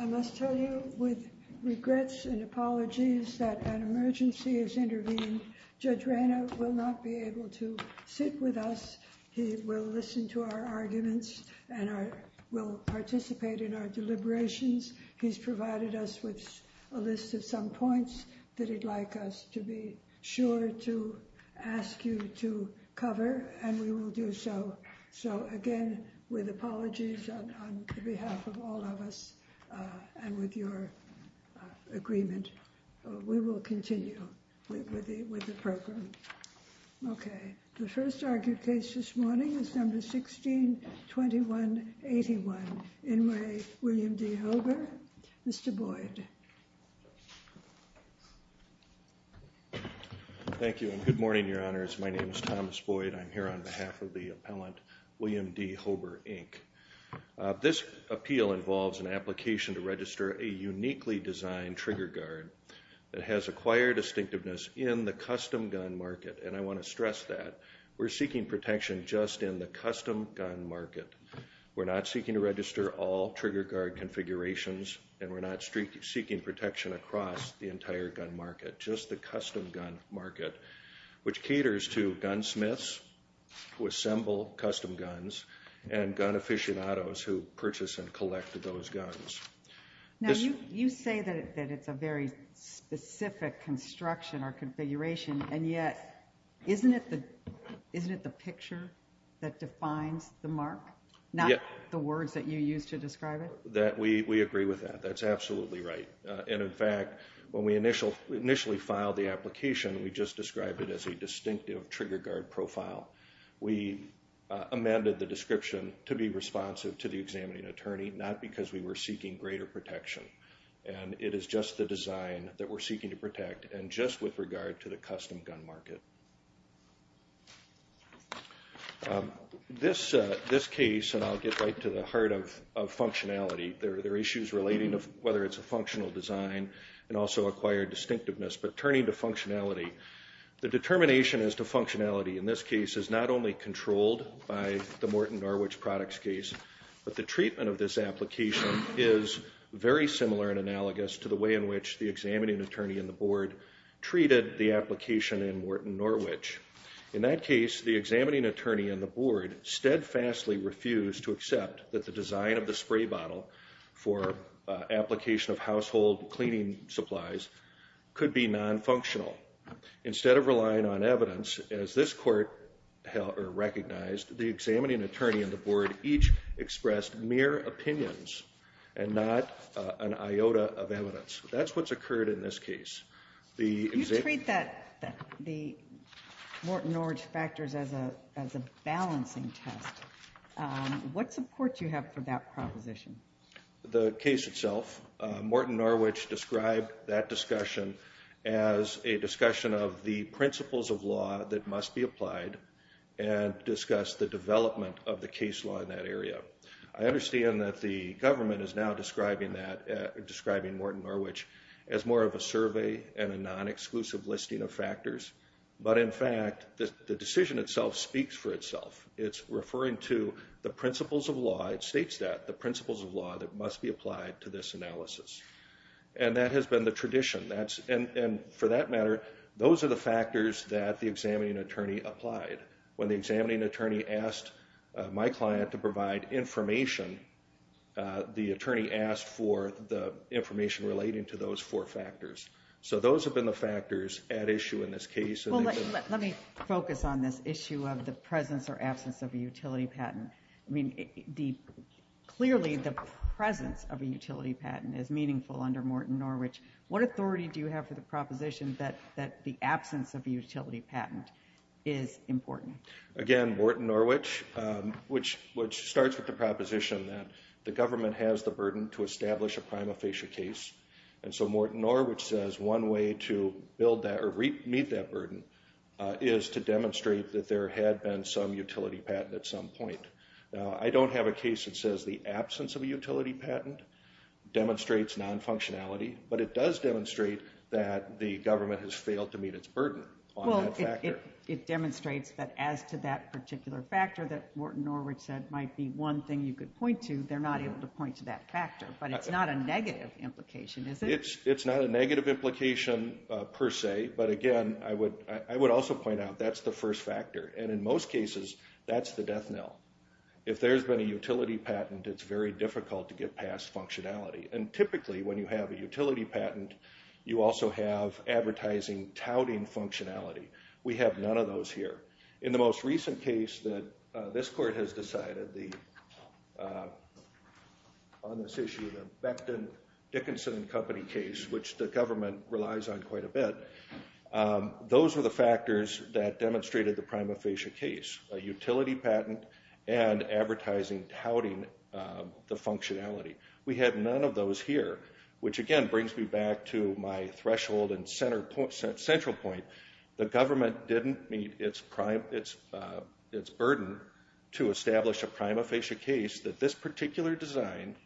I must tell you with regrets and apologies that an emergency has intervened. Judge Reyna will not be able to sit with us. He will listen to our arguments and will participate in our deliberations. He's provided us with a list of some points that he'd like us to be sure to ask you to cover, and we will do so. So, again, with apologies on behalf of all of us and with your agreement, we will continue with the program. OK. The first argued case this morning is number 162181, In Re William D. Hober. Mr. Boyd. Thank you, and good morning, Your Honors. My name is Thomas Boyd. I'm here on behalf of the appellant, William D. Hober, Inc. This appeal involves an application to register a uniquely designed trigger guard that has acquired distinctiveness in the custom gun market, and I want to stress that. We're seeking protection just in the custom gun market. We're not seeking to register all trigger guard configurations, and we're not seeking protection across the entire gun market, just the custom gun market, which caters to gunsmiths who assemble custom guns and gun aficionados who purchase and collect those guns. Now, you say that it's a very specific construction or configuration, and yet, isn't it the picture that defines the mark, not the words that you use to describe it? We agree with that. That's absolutely right, and in fact, when we initially filed the application, we just described it as a distinctive trigger guard profile. We amended the description to be responsive to the examining attorney, not because we were seeking greater protection, and it is just the design that we're seeking to protect, and just with regard to the custom gun market. This case, and I'll get right to the heart of functionality, there are issues relating to whether it's a functional design and also acquired distinctiveness, but turning to functionality. The determination as to functionality in this case is not only controlled by the Morton Norwich products case, but the treatment of this application is very similar and analogous to the way in which the examining attorney and the board treated the application in Morton Norwich. In that case, the examining attorney and the board steadfastly refused to accept that the design of the spray bottle for application of household cleaning supplies could be non-functional. Instead of relying on evidence, as this court recognized, the examining attorney and the board each expressed mere opinions and not an iota of evidence. That's what's occurred in this case. You treat the Morton Norwich factors as a balancing test. What support do you have for that proposition? The case itself, Morton Norwich described that discussion as a discussion of the principles of law that must be applied and discussed the development of the case law in that area. I understand that the government is now describing Morton Norwich as more of a survey and a non-exclusive listing of factors, but in fact, the decision itself speaks for itself. It's referring to the principles of law, it states that, the principles of law that must be applied to this analysis. And that has been the tradition. And for that matter, those are the factors that the examining attorney applied. When the examining attorney asked my client to provide information, the attorney asked for the information relating to those four factors. So those have been the factors at issue in this case. Let me focus on this issue of the presence or absence of a utility patent. Clearly, the presence of a utility patent is meaningful under Morton Norwich. What authority do you have for the proposition that the absence of a utility patent is important? Again, Morton Norwich, which starts with the proposition that the government has the burden to establish a prima facie case. And so Morton Norwich says one way to meet that burden is to demonstrate that there had been some utility patent at some point. Now, I don't have a case that says the absence of a utility patent demonstrates non-functionality, but it does demonstrate that the government has failed to meet its burden on that factor. Well, it demonstrates that as to that particular factor that Morton Norwich said might be one thing you could point to, they're not able to point to that factor, but it's not a negative implication, is it? It's not a negative implication per se, but again, I would also point out that's the first factor. And in most cases, that's the death knell. If there's been a utility patent, it's very difficult to get past functionality. And typically, when you have a utility patent, you also have advertising touting functionality. We have none of those here. In the most recent case that this court has decided, on this issue, the Becton Dickinson Company case, which the government relies on quite a bit, those were the factors that demonstrated the prima facie case, a utility patent and advertising touting the functionality. We had none of those here, which again brings me back to my threshold and central point. The government didn't meet its burden to establish a prima facie case that this particular design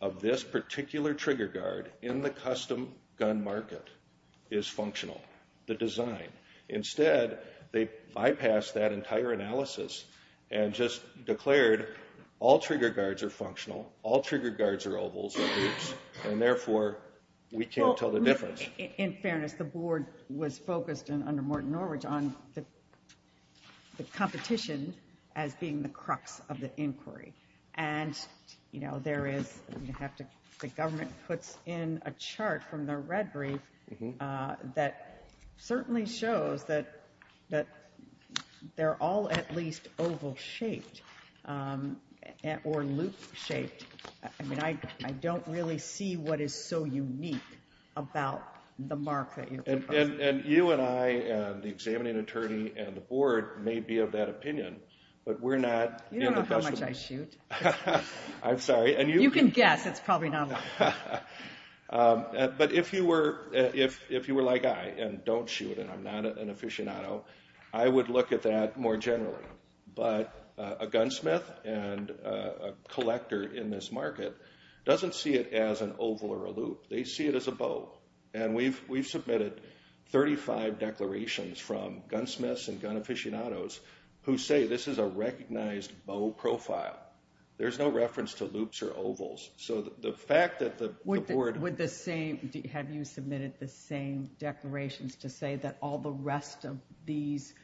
of this particular trigger guard in the custom gun market is functional, the design. Instead, they bypassed that entire analysis and just declared all trigger guards are functional, all trigger guards are ovals and loops, and therefore, we can't tell the difference. In fairness, the board was focused, under Morton Norwich, on the competition as being the crux of the inquiry. And, you know, there is, you have to, the government puts in a chart from their red brief that certainly shows that they're all at least oval shaped or loop shaped. I mean, I don't really see what is so unique about the mark that you're proposing. And you and I and the examining attorney and the board may be of that opinion, but we're not. You don't know how much I shoot. I'm sorry. You can guess, it's probably not a lot. But if you were like I and don't shoot and I'm not an aficionado, I would look at that more generally. But a gunsmith and a collector in this market doesn't see it as an oval or a loop. They see it as a bow. And we've submitted 35 declarations from gunsmiths and gun aficionados who say this is a recognized bow profile. There's no reference to loops or ovals. So the fact that the board- Have you submitted the same declarations to say that all the rest of these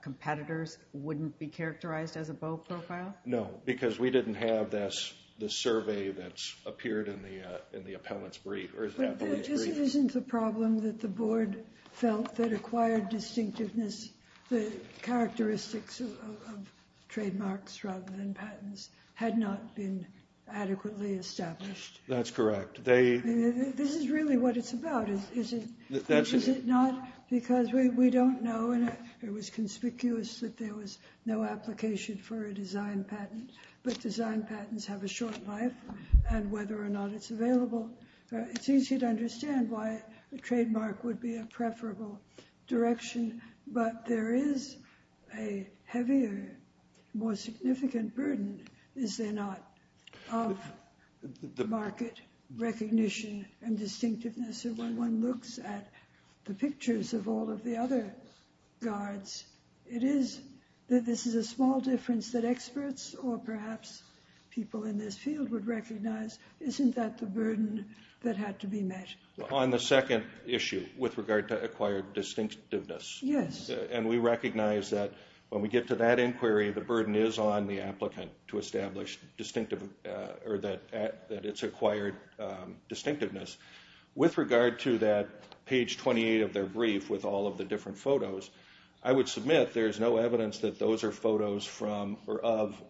competitors wouldn't be characterized as a bow profile? No, because we didn't have this survey that's appeared in the appellate's brief. But this isn't the problem that the board felt that acquired distinctiveness, the characteristics of trademarks rather than patents, had not been adequately established. That's correct. This is really what it's about, is it not? Because we don't know and it was conspicuous that there was no application for a design patent. But design patents have a short life and whether or not it's available, it's easy to understand why a trademark would be a preferable direction. But there is a heavier, more significant burden, is there not, of market recognition and distinctiveness. And when one looks at the pictures of all of the other guards, it is that this is a small difference that experts or perhaps people in this field would recognize. Isn't that the burden that had to be met? On the second issue, with regard to acquired distinctiveness. Yes. And we recognize that when we get to that inquiry, the burden is on the applicant to establish that it's acquired distinctiveness. With regard to that page 28 of their brief with all of the different photos, I would submit there is no evidence that those are photos of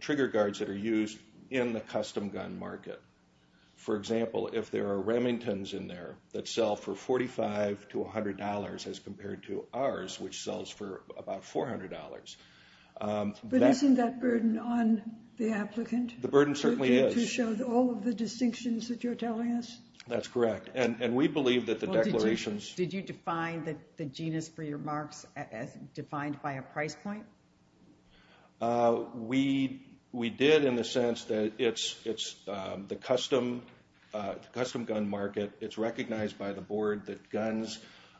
trigger guards that are used in the custom gun market. For example, if there are Remingtons in there that sell for $45 to $100 as compared to ours, which sells for about $400. But isn't that burden on the applicant? The burden certainly is. To show all of the distinctions that you're telling us? That's correct. And we believe that the declarations... Did you define the genus for your marks as defined by a price point? We did in the sense that it's the custom gun market. It's recognized by the board that guns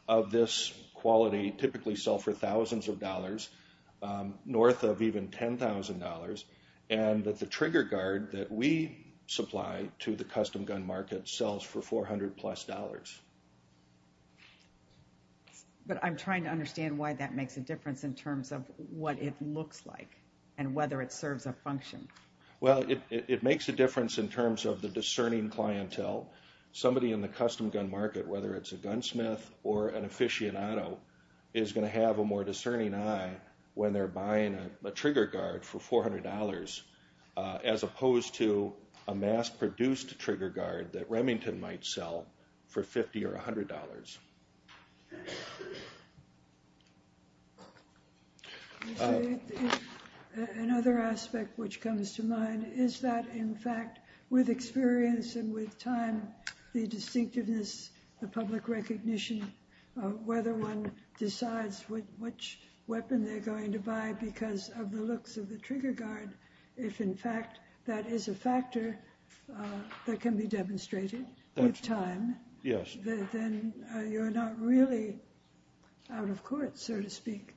of this quality typically sell for thousands of dollars, north of even $10,000, and that the trigger guard that we supply to the custom gun market sells for $400 plus. But I'm trying to understand why that makes a difference in terms of what it looks like and whether it serves a function. Well, it makes a difference in terms of the discerning clientele. Somebody in the custom gun market, whether it's a gunsmith or an aficionado, is going to have a more discerning eye when they're buying a trigger guard for $400 as opposed to a mass-produced trigger guard that Remington might sell for $50 or $100. Another aspect which comes to mind is that, in fact, with experience and with time, the distinctiveness, the public recognition, whether one decides which weapon they're going to buy because of the looks of the trigger guard, if, in fact, that is a factor that can be demonstrated with time, then you're not really out of court, so to speak,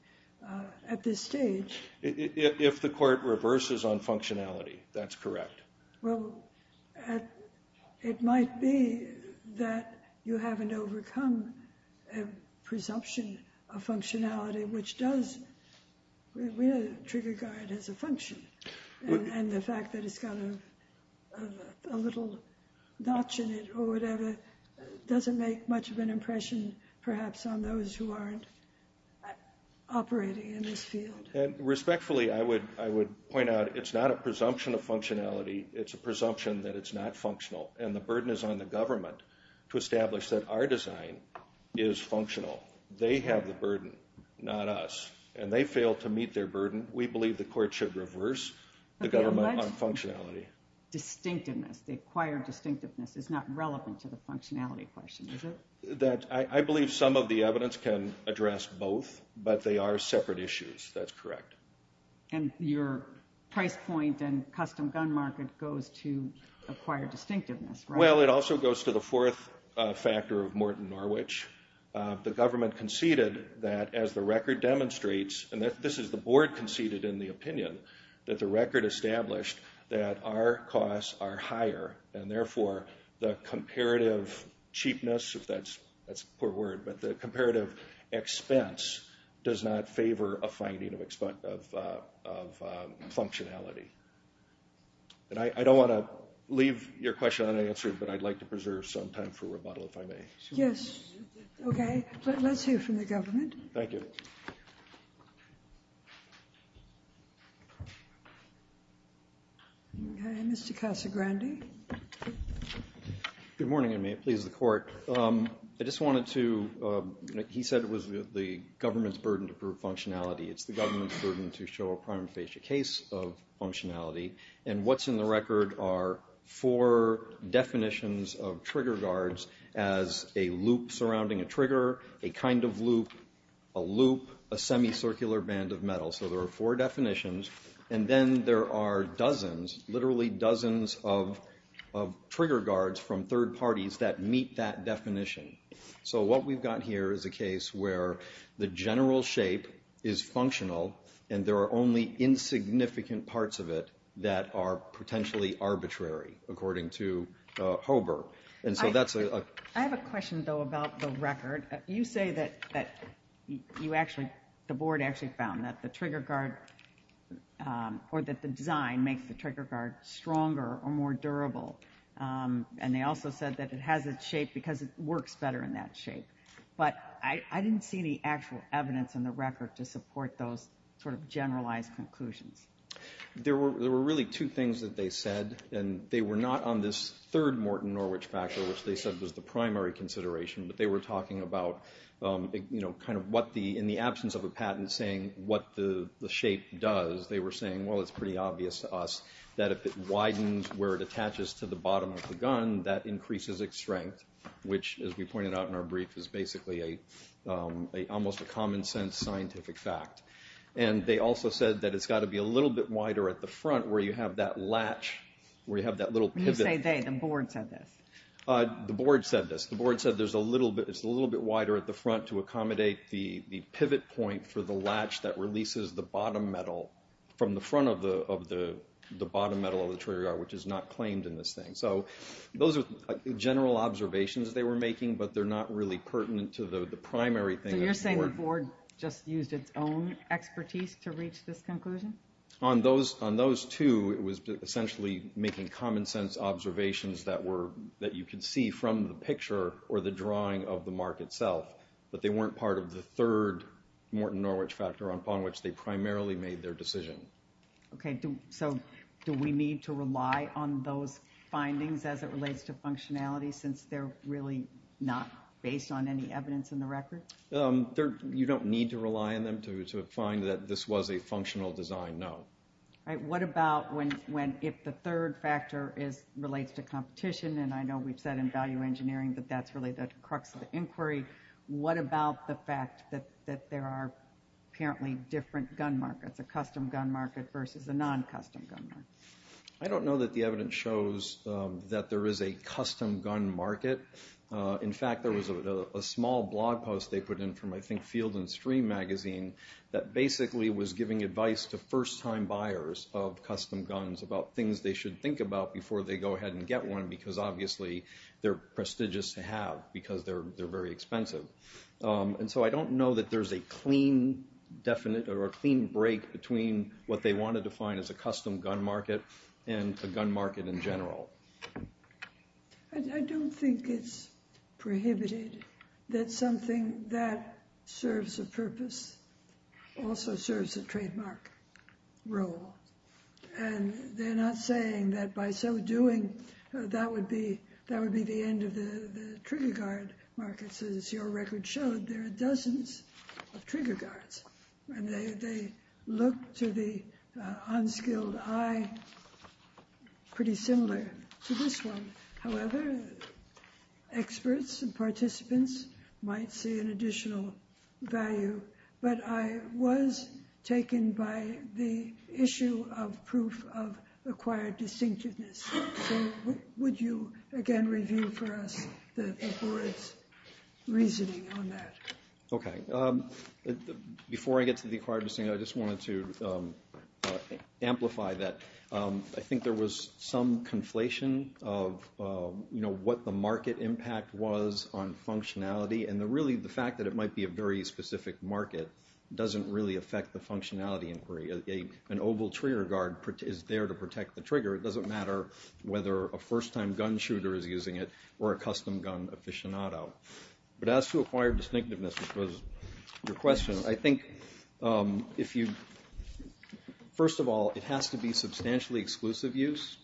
at this stage. If the court reverses on functionality, that's correct. Well, it might be that you haven't overcome a presumption of functionality which does trigger guard as a function, and the fact that it's got a little notch in it or whatever doesn't make much of an impression, perhaps, on those who aren't operating in this field. Respectfully, I would point out it's not a presumption of functionality. It's a presumption that it's not functional, and the burden is on the government to establish that our design is functional. They have the burden, not us, and they fail to meet their burden. We believe the court should reverse the government on functionality. Distinctiveness, the acquired distinctiveness, is not relevant to the functionality question, is it? I believe some of the evidence can address both, but they are separate issues. That's correct. And your price point and custom gun market goes to acquired distinctiveness, right? Well, it also goes to the fourth factor of Morton Norwich. The government conceded that as the record demonstrates, and this is the board conceded in the opinion, that the record established that our costs are higher, and therefore the comparative cheapness, if that's a poor word, but the comparative expense does not favor a finding of functionality. And I don't want to leave your question unanswered, but I'd like to preserve some time for rebuttal if I may. Yes. Okay. Let's hear from the government. Thank you. Mr. Casagrande. Good morning, and may it please the court. I just wanted to, he said it was the government's burden to prove functionality. It's the government's burden to show a prima facie case of functionality, and what's in the record are four definitions of trigger guards as a loop surrounding a trigger, a kind of loop, a loop, a semicircular band of metal. So there are four definitions, and then there are dozens, literally dozens of trigger guards from third parties that meet that definition. So what we've got here is a case where the general shape is functional and there are only insignificant parts of it that are potentially arbitrary, according to Hober. I have a question, though, about the record. You say that you actually, the board actually found that the trigger guard, or that the design makes the trigger guard stronger or more durable, and they also said that it has its shape because it works better in that shape. But I didn't see any actual evidence in the record to support those sort of generalized conclusions. There were really two things that they said, and they were not on this third Morton Norwich factor, which they said was the primary consideration, but they were talking about kind of what the, in the absence of a patent, saying what the shape does. They were saying, well, it's pretty obvious to us that if it widens where it attaches to the bottom of the gun, that increases its strength, which, as we pointed out in our brief, is basically almost a common sense scientific fact. And they also said that it's got to be a little bit wider at the front where you have that latch, where you have that little pivot. When you say they, the board said this. The board said this. The board said it's a little bit wider at the front to accommodate the pivot point for the latch that releases the bottom metal from the front of the bottom metal of the trigger guard, which is not claimed in this thing. So those are general observations they were making, but they're not really pertinent to the primary thing. So you're saying the board just used its own expertise to reach this conclusion? On those two, it was essentially making common sense observations that you could see from the picture or the drawing of the mark itself, but they weren't part of the third Morton Norwich factor upon which they primarily made their decision. Okay. So do we need to rely on those findings as it relates to functionality since they're really not based on any evidence in the record? You don't need to rely on them to find that this was a functional design, no. All right. What about when if the third factor relates to competition, and I know we've said in value engineering that that's really the crux of the inquiry, what about the fact that there are apparently different gun markets, a custom gun market versus a non-custom gun market? I don't know that the evidence shows that there is a custom gun market. In fact, there was a small blog post they put in from, I think, Field and Stream magazine that basically was giving advice to first-time buyers of custom guns about things they should think about before they go ahead and get one because, obviously, they're prestigious to have because they're very expensive. And so I don't know that there's a clean break between what they want to define as a custom gun market and a gun market in general. I don't think it's prohibited that something that serves a purpose also serves a trademark role. And they're not saying that by so doing, that would be the end of the trigger guard markets. As your record showed, there are dozens of trigger guards, and they look to the unskilled eye pretty similar to this one. However, experts and participants might see an additional value. But I was taken by the issue of proof of acquired distinctiveness. So would you again review for us the board's reasoning on that? Okay. Before I get to the acquired distinctiveness, I just wanted to amplify that. I think there was some conflation of what the market impact was on functionality, and really the fact that it might be a very specific market doesn't really affect the functionality inquiry. An oval trigger guard is there to protect the trigger. It doesn't matter whether a first-time gun shooter is using it or a custom gun aficionado. But as to acquired distinctiveness, which was your question, I think, first of all, it has to be substantially exclusive use,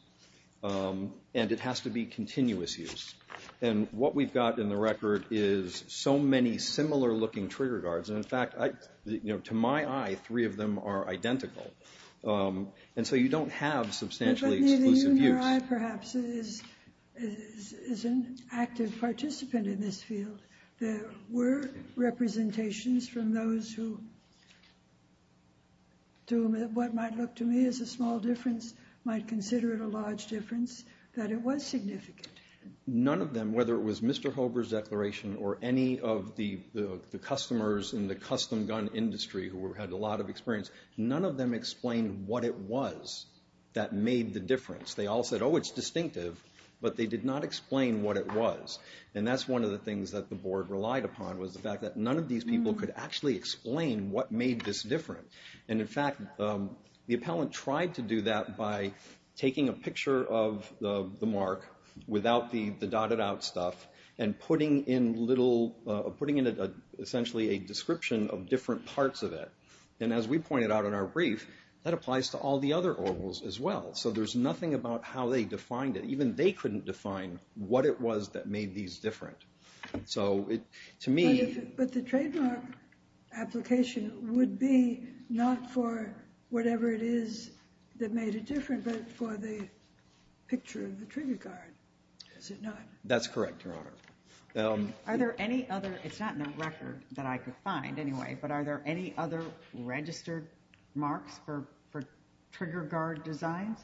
and it has to be continuous use. And what we've got in the record is so many similar-looking trigger guards. And, in fact, to my eye, three of them are identical. And so you don't have substantially exclusive use. But neither you nor I, perhaps, is an active participant in this field. There were representations from those who, to what might look to me as a small difference, might consider it a large difference, that it was significant. None of them, whether it was Mr. Hober's declaration or any of the customers in the custom gun industry who had a lot of experience, none of them explained what it was that made the difference. They all said, oh, it's distinctive, but they did not explain what it was. And that's one of the things that the board relied upon, was the fact that none of these people could actually explain what made this different. And, in fact, the appellant tried to do that by taking a picture of the mark without the dotted-out stuff and putting in, essentially, a description of different parts of it. And as we pointed out in our brief, that applies to all the other Orvals as well. So there's nothing about how they defined it. Even they couldn't define what it was that made these different. So, to me... But the trademark application would be not for whatever it is that made it different, but for the picture of the trigger guard, is it not? That's correct, Your Honor. Are there any other, it's not in the record that I could find, anyway, but are there any other registered marks for trigger guard designs?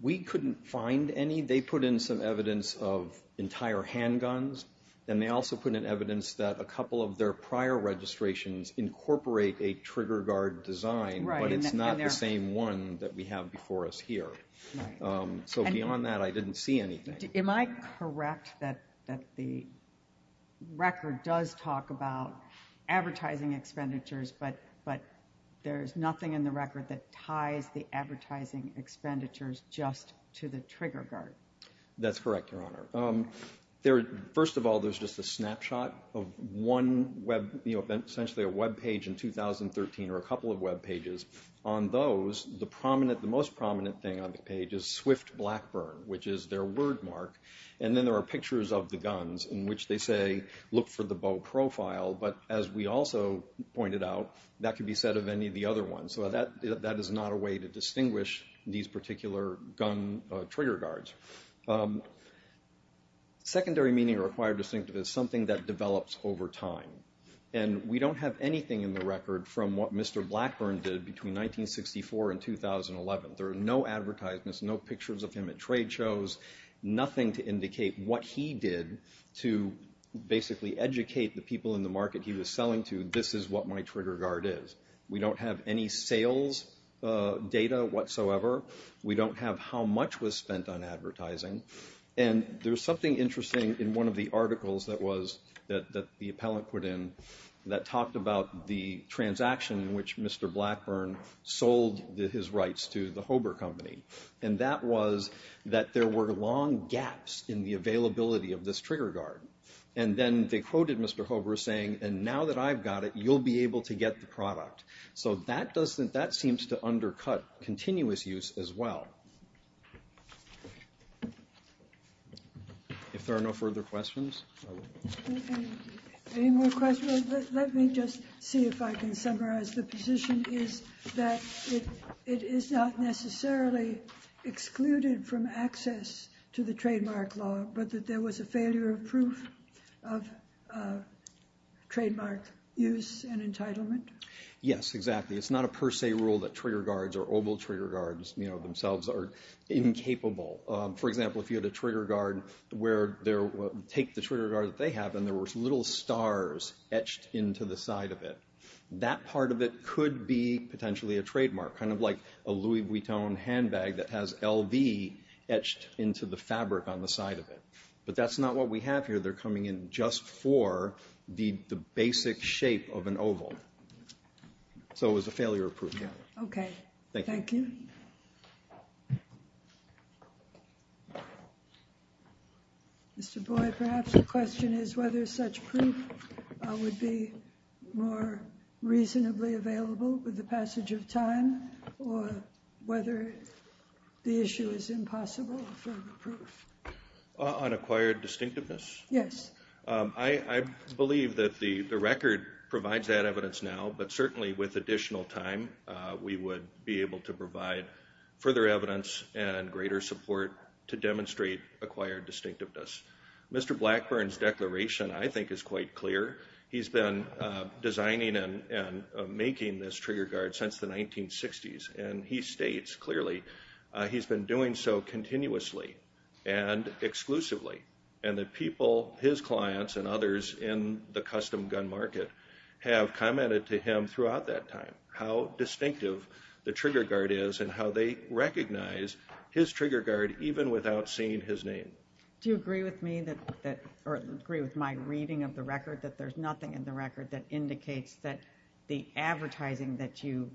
We couldn't find any. They put in some evidence of entire handguns, and they also put in evidence that a couple of their prior registrations incorporate a trigger guard design, but it's not the same one that we have before us here. So beyond that, I didn't see anything. Am I correct that the record does talk about advertising expenditures, but there's nothing in the record that ties the advertising expenditures just to the trigger guard? That's correct, Your Honor. First of all, there's just a snapshot of one, essentially a web page in 2013 or a couple of web pages. On those, the most prominent thing on the page is Swift Blackburn, which is their word mark, and then there are pictures of the guns in which they say, look for the bow profile, but as we also pointed out, that could be said of any of the other ones. So that is not a way to distinguish these particular gun trigger guards. Secondary meaning required distinctive is something that develops over time, and we don't have anything in the record from what Mr. Blackburn did between 1964 and 2011. There are no advertisements, no pictures of him at trade shows, nothing to indicate what he did to basically educate the people in the market he was selling to, this is what my trigger guard is. We don't have any sales data whatsoever. We don't have how much was spent on advertising, and there's something interesting in one of the articles that the appellant put in that talked about the transaction in which Mr. Blackburn sold his rights to the Hober Company, and that was that there were long gaps in the availability of this trigger guard. And then they quoted Mr. Hober saying, and now that I've got it, you'll be able to get the product. So that seems to undercut continuous use as well. If there are no further questions. Any more questions? Let me just see if I can summarize. The position is that it is not necessarily excluded from access to the trademark law, but that there was a failure of proof of trademark use and entitlement? Yes, exactly. It's not a per se rule that trigger guards or oval trigger guards, you know, themselves are incapable. For example, if you had a trigger guard where take the trigger guard that they have and there were little stars etched into the side of it, that part of it could be potentially a trademark, kind of like a Louis Vuitton handbag that has LV etched into the fabric on the side of it. But that's not what we have here. They're coming in just for the basic shape of an oval. So it was a failure of proof. Okay. Thank you. Thank you. Mr. Boyd, perhaps the question is whether such proof would be more reasonably available with the passage of time or whether the issue is impossible for the proof. On acquired distinctiveness? Yes. I believe that the record provides that evidence now, but certainly with additional time we would be able to provide further evidence and greater support to demonstrate acquired distinctiveness. Mr. Blackburn's declaration, I think, is quite clear. He's been designing and making this trigger guard since the 1960s, and he states clearly he's been doing so continuously and exclusively. And the people, his clients and others in the custom gun market, have commented to him throughout that time how distinctive the trigger guard is and how they recognize his trigger guard even without seeing his name. Do you agree with me or agree with my reading of the record that there's nothing in the record that indicates that the advertising that you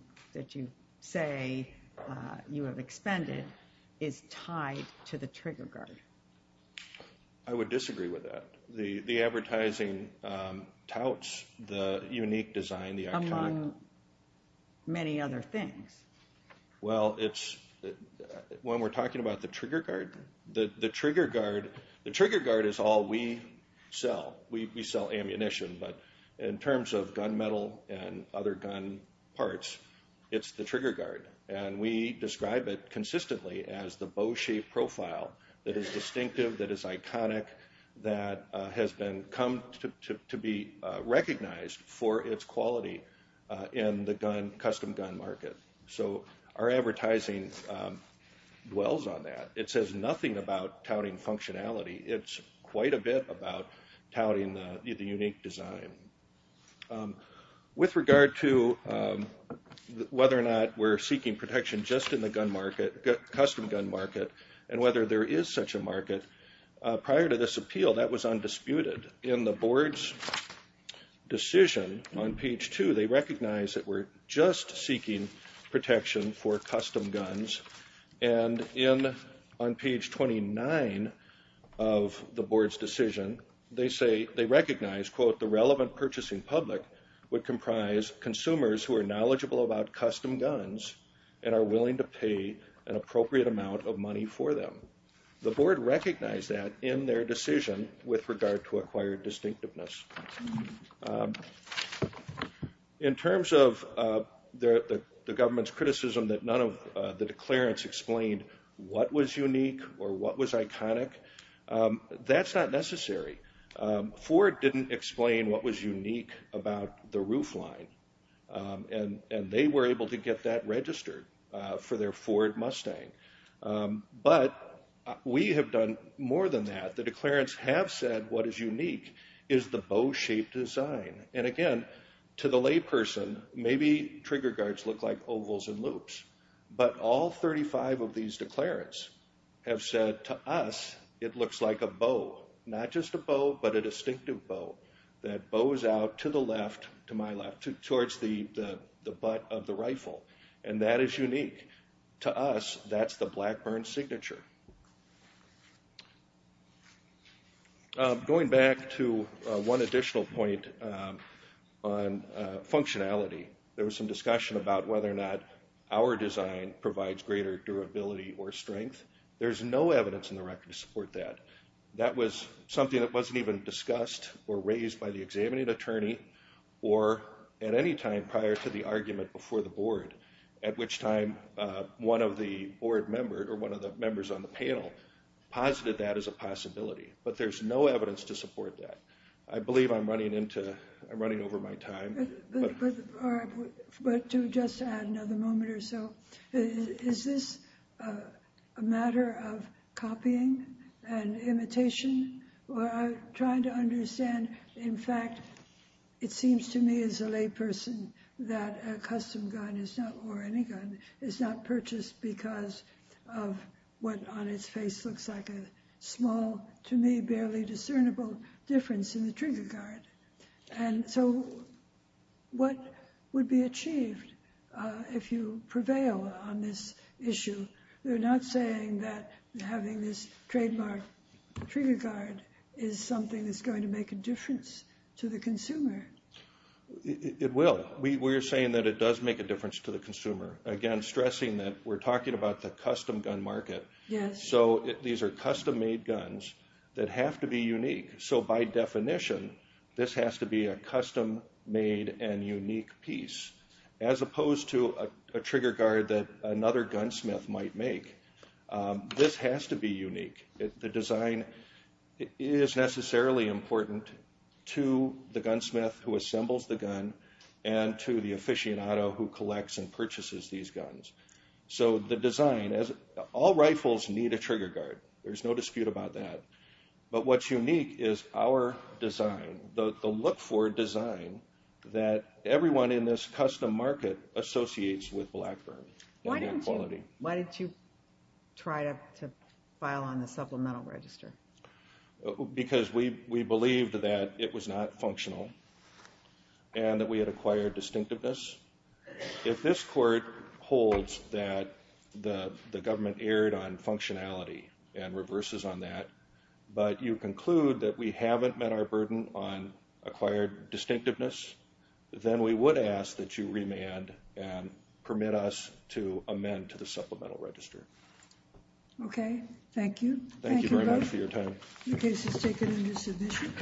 say you have expended is tied to the trigger guard? I would disagree with that. The advertising touts the unique design, the iconic. Among many other things. Well, when we're talking about the trigger guard, the trigger guard is all we sell. We sell ammunition, but in terms of gun metal and other gun parts, it's the trigger guard. And we describe it consistently as the bow-shaped profile that is distinctive, that is iconic, that has come to be recognized for its quality in the custom gun market. So our advertising dwells on that. It says nothing about touting functionality. It's quite a bit about touting the unique design. With regard to whether or not we're seeking protection just in the custom gun market and whether there is such a market, prior to this appeal, that was undisputed. In the board's decision on page 2, they recognize that we're just seeking protection for custom guns. And on page 29 of the board's decision, they recognize, quote, the relevant purchasing public would comprise consumers who are knowledgeable about custom guns and are willing to pay an appropriate amount of money for them. The board recognized that in their decision with regard to acquired distinctiveness. In terms of the government's criticism that none of the declarants explained what was unique or what was iconic, that's not necessary. Ford didn't explain what was unique about the roofline. And they were able to get that registered for their Ford Mustang. But we have done more than that. The declarants have said what is unique is the bow-shaped design. And, again, to the layperson, maybe trigger guards look like ovals and loops. But all 35 of these declarants have said to us it looks like a bow, not just a bow but a distinctive bow, that bows out to the left, to my left, towards the butt of the rifle. And that is unique. To us, that's the Blackburn signature. Going back to one additional point on functionality, there was some discussion about whether or not our design provides greater durability or strength. There's no evidence in the record to support that. That was something that wasn't even discussed or raised by the examining attorney or at any time prior to the argument before the board, at which time one of the board members or one of the members on the panel posited that as a possibility. But there's no evidence to support that. I believe I'm running over my time. But to just add another moment or so, is this a matter of copying and imitation? I'm trying to understand. In fact, it seems to me as a layperson that a custom gun is not, or any gun, is not purchased because of what on its face looks like a small, to me, barely discernible difference in the trigger guard. And so what would be achieved if you prevail on this issue? You're not saying that having this trademark trigger guard is something that's going to make a difference to the consumer. It will. We're saying that it does make a difference to the consumer. Again, stressing that we're talking about the custom gun market. So these are custom-made guns that have to be unique. So by definition, this has to be a custom-made and unique piece, as opposed to a trigger guard that another gunsmith might make. This has to be unique. The design is necessarily important to the gunsmith who assembles the gun and to the aficionado who collects and purchases these guns. So the design, all rifles need a trigger guard. There's no dispute about that. But what's unique is our design, the look-for design, that everyone in this custom market associates with Blackburn. Why didn't you try to file on the supplemental register? Because we believed that it was not functional and that we had acquired distinctiveness. If this court holds that the government erred on functionality and reverses on that, but you conclude that we haven't met our burden on acquired distinctiveness, then we would ask that you remand and permit us to amend to the supplemental register. Okay. Thank you. Thank you very much for your time. The case is taken into submission.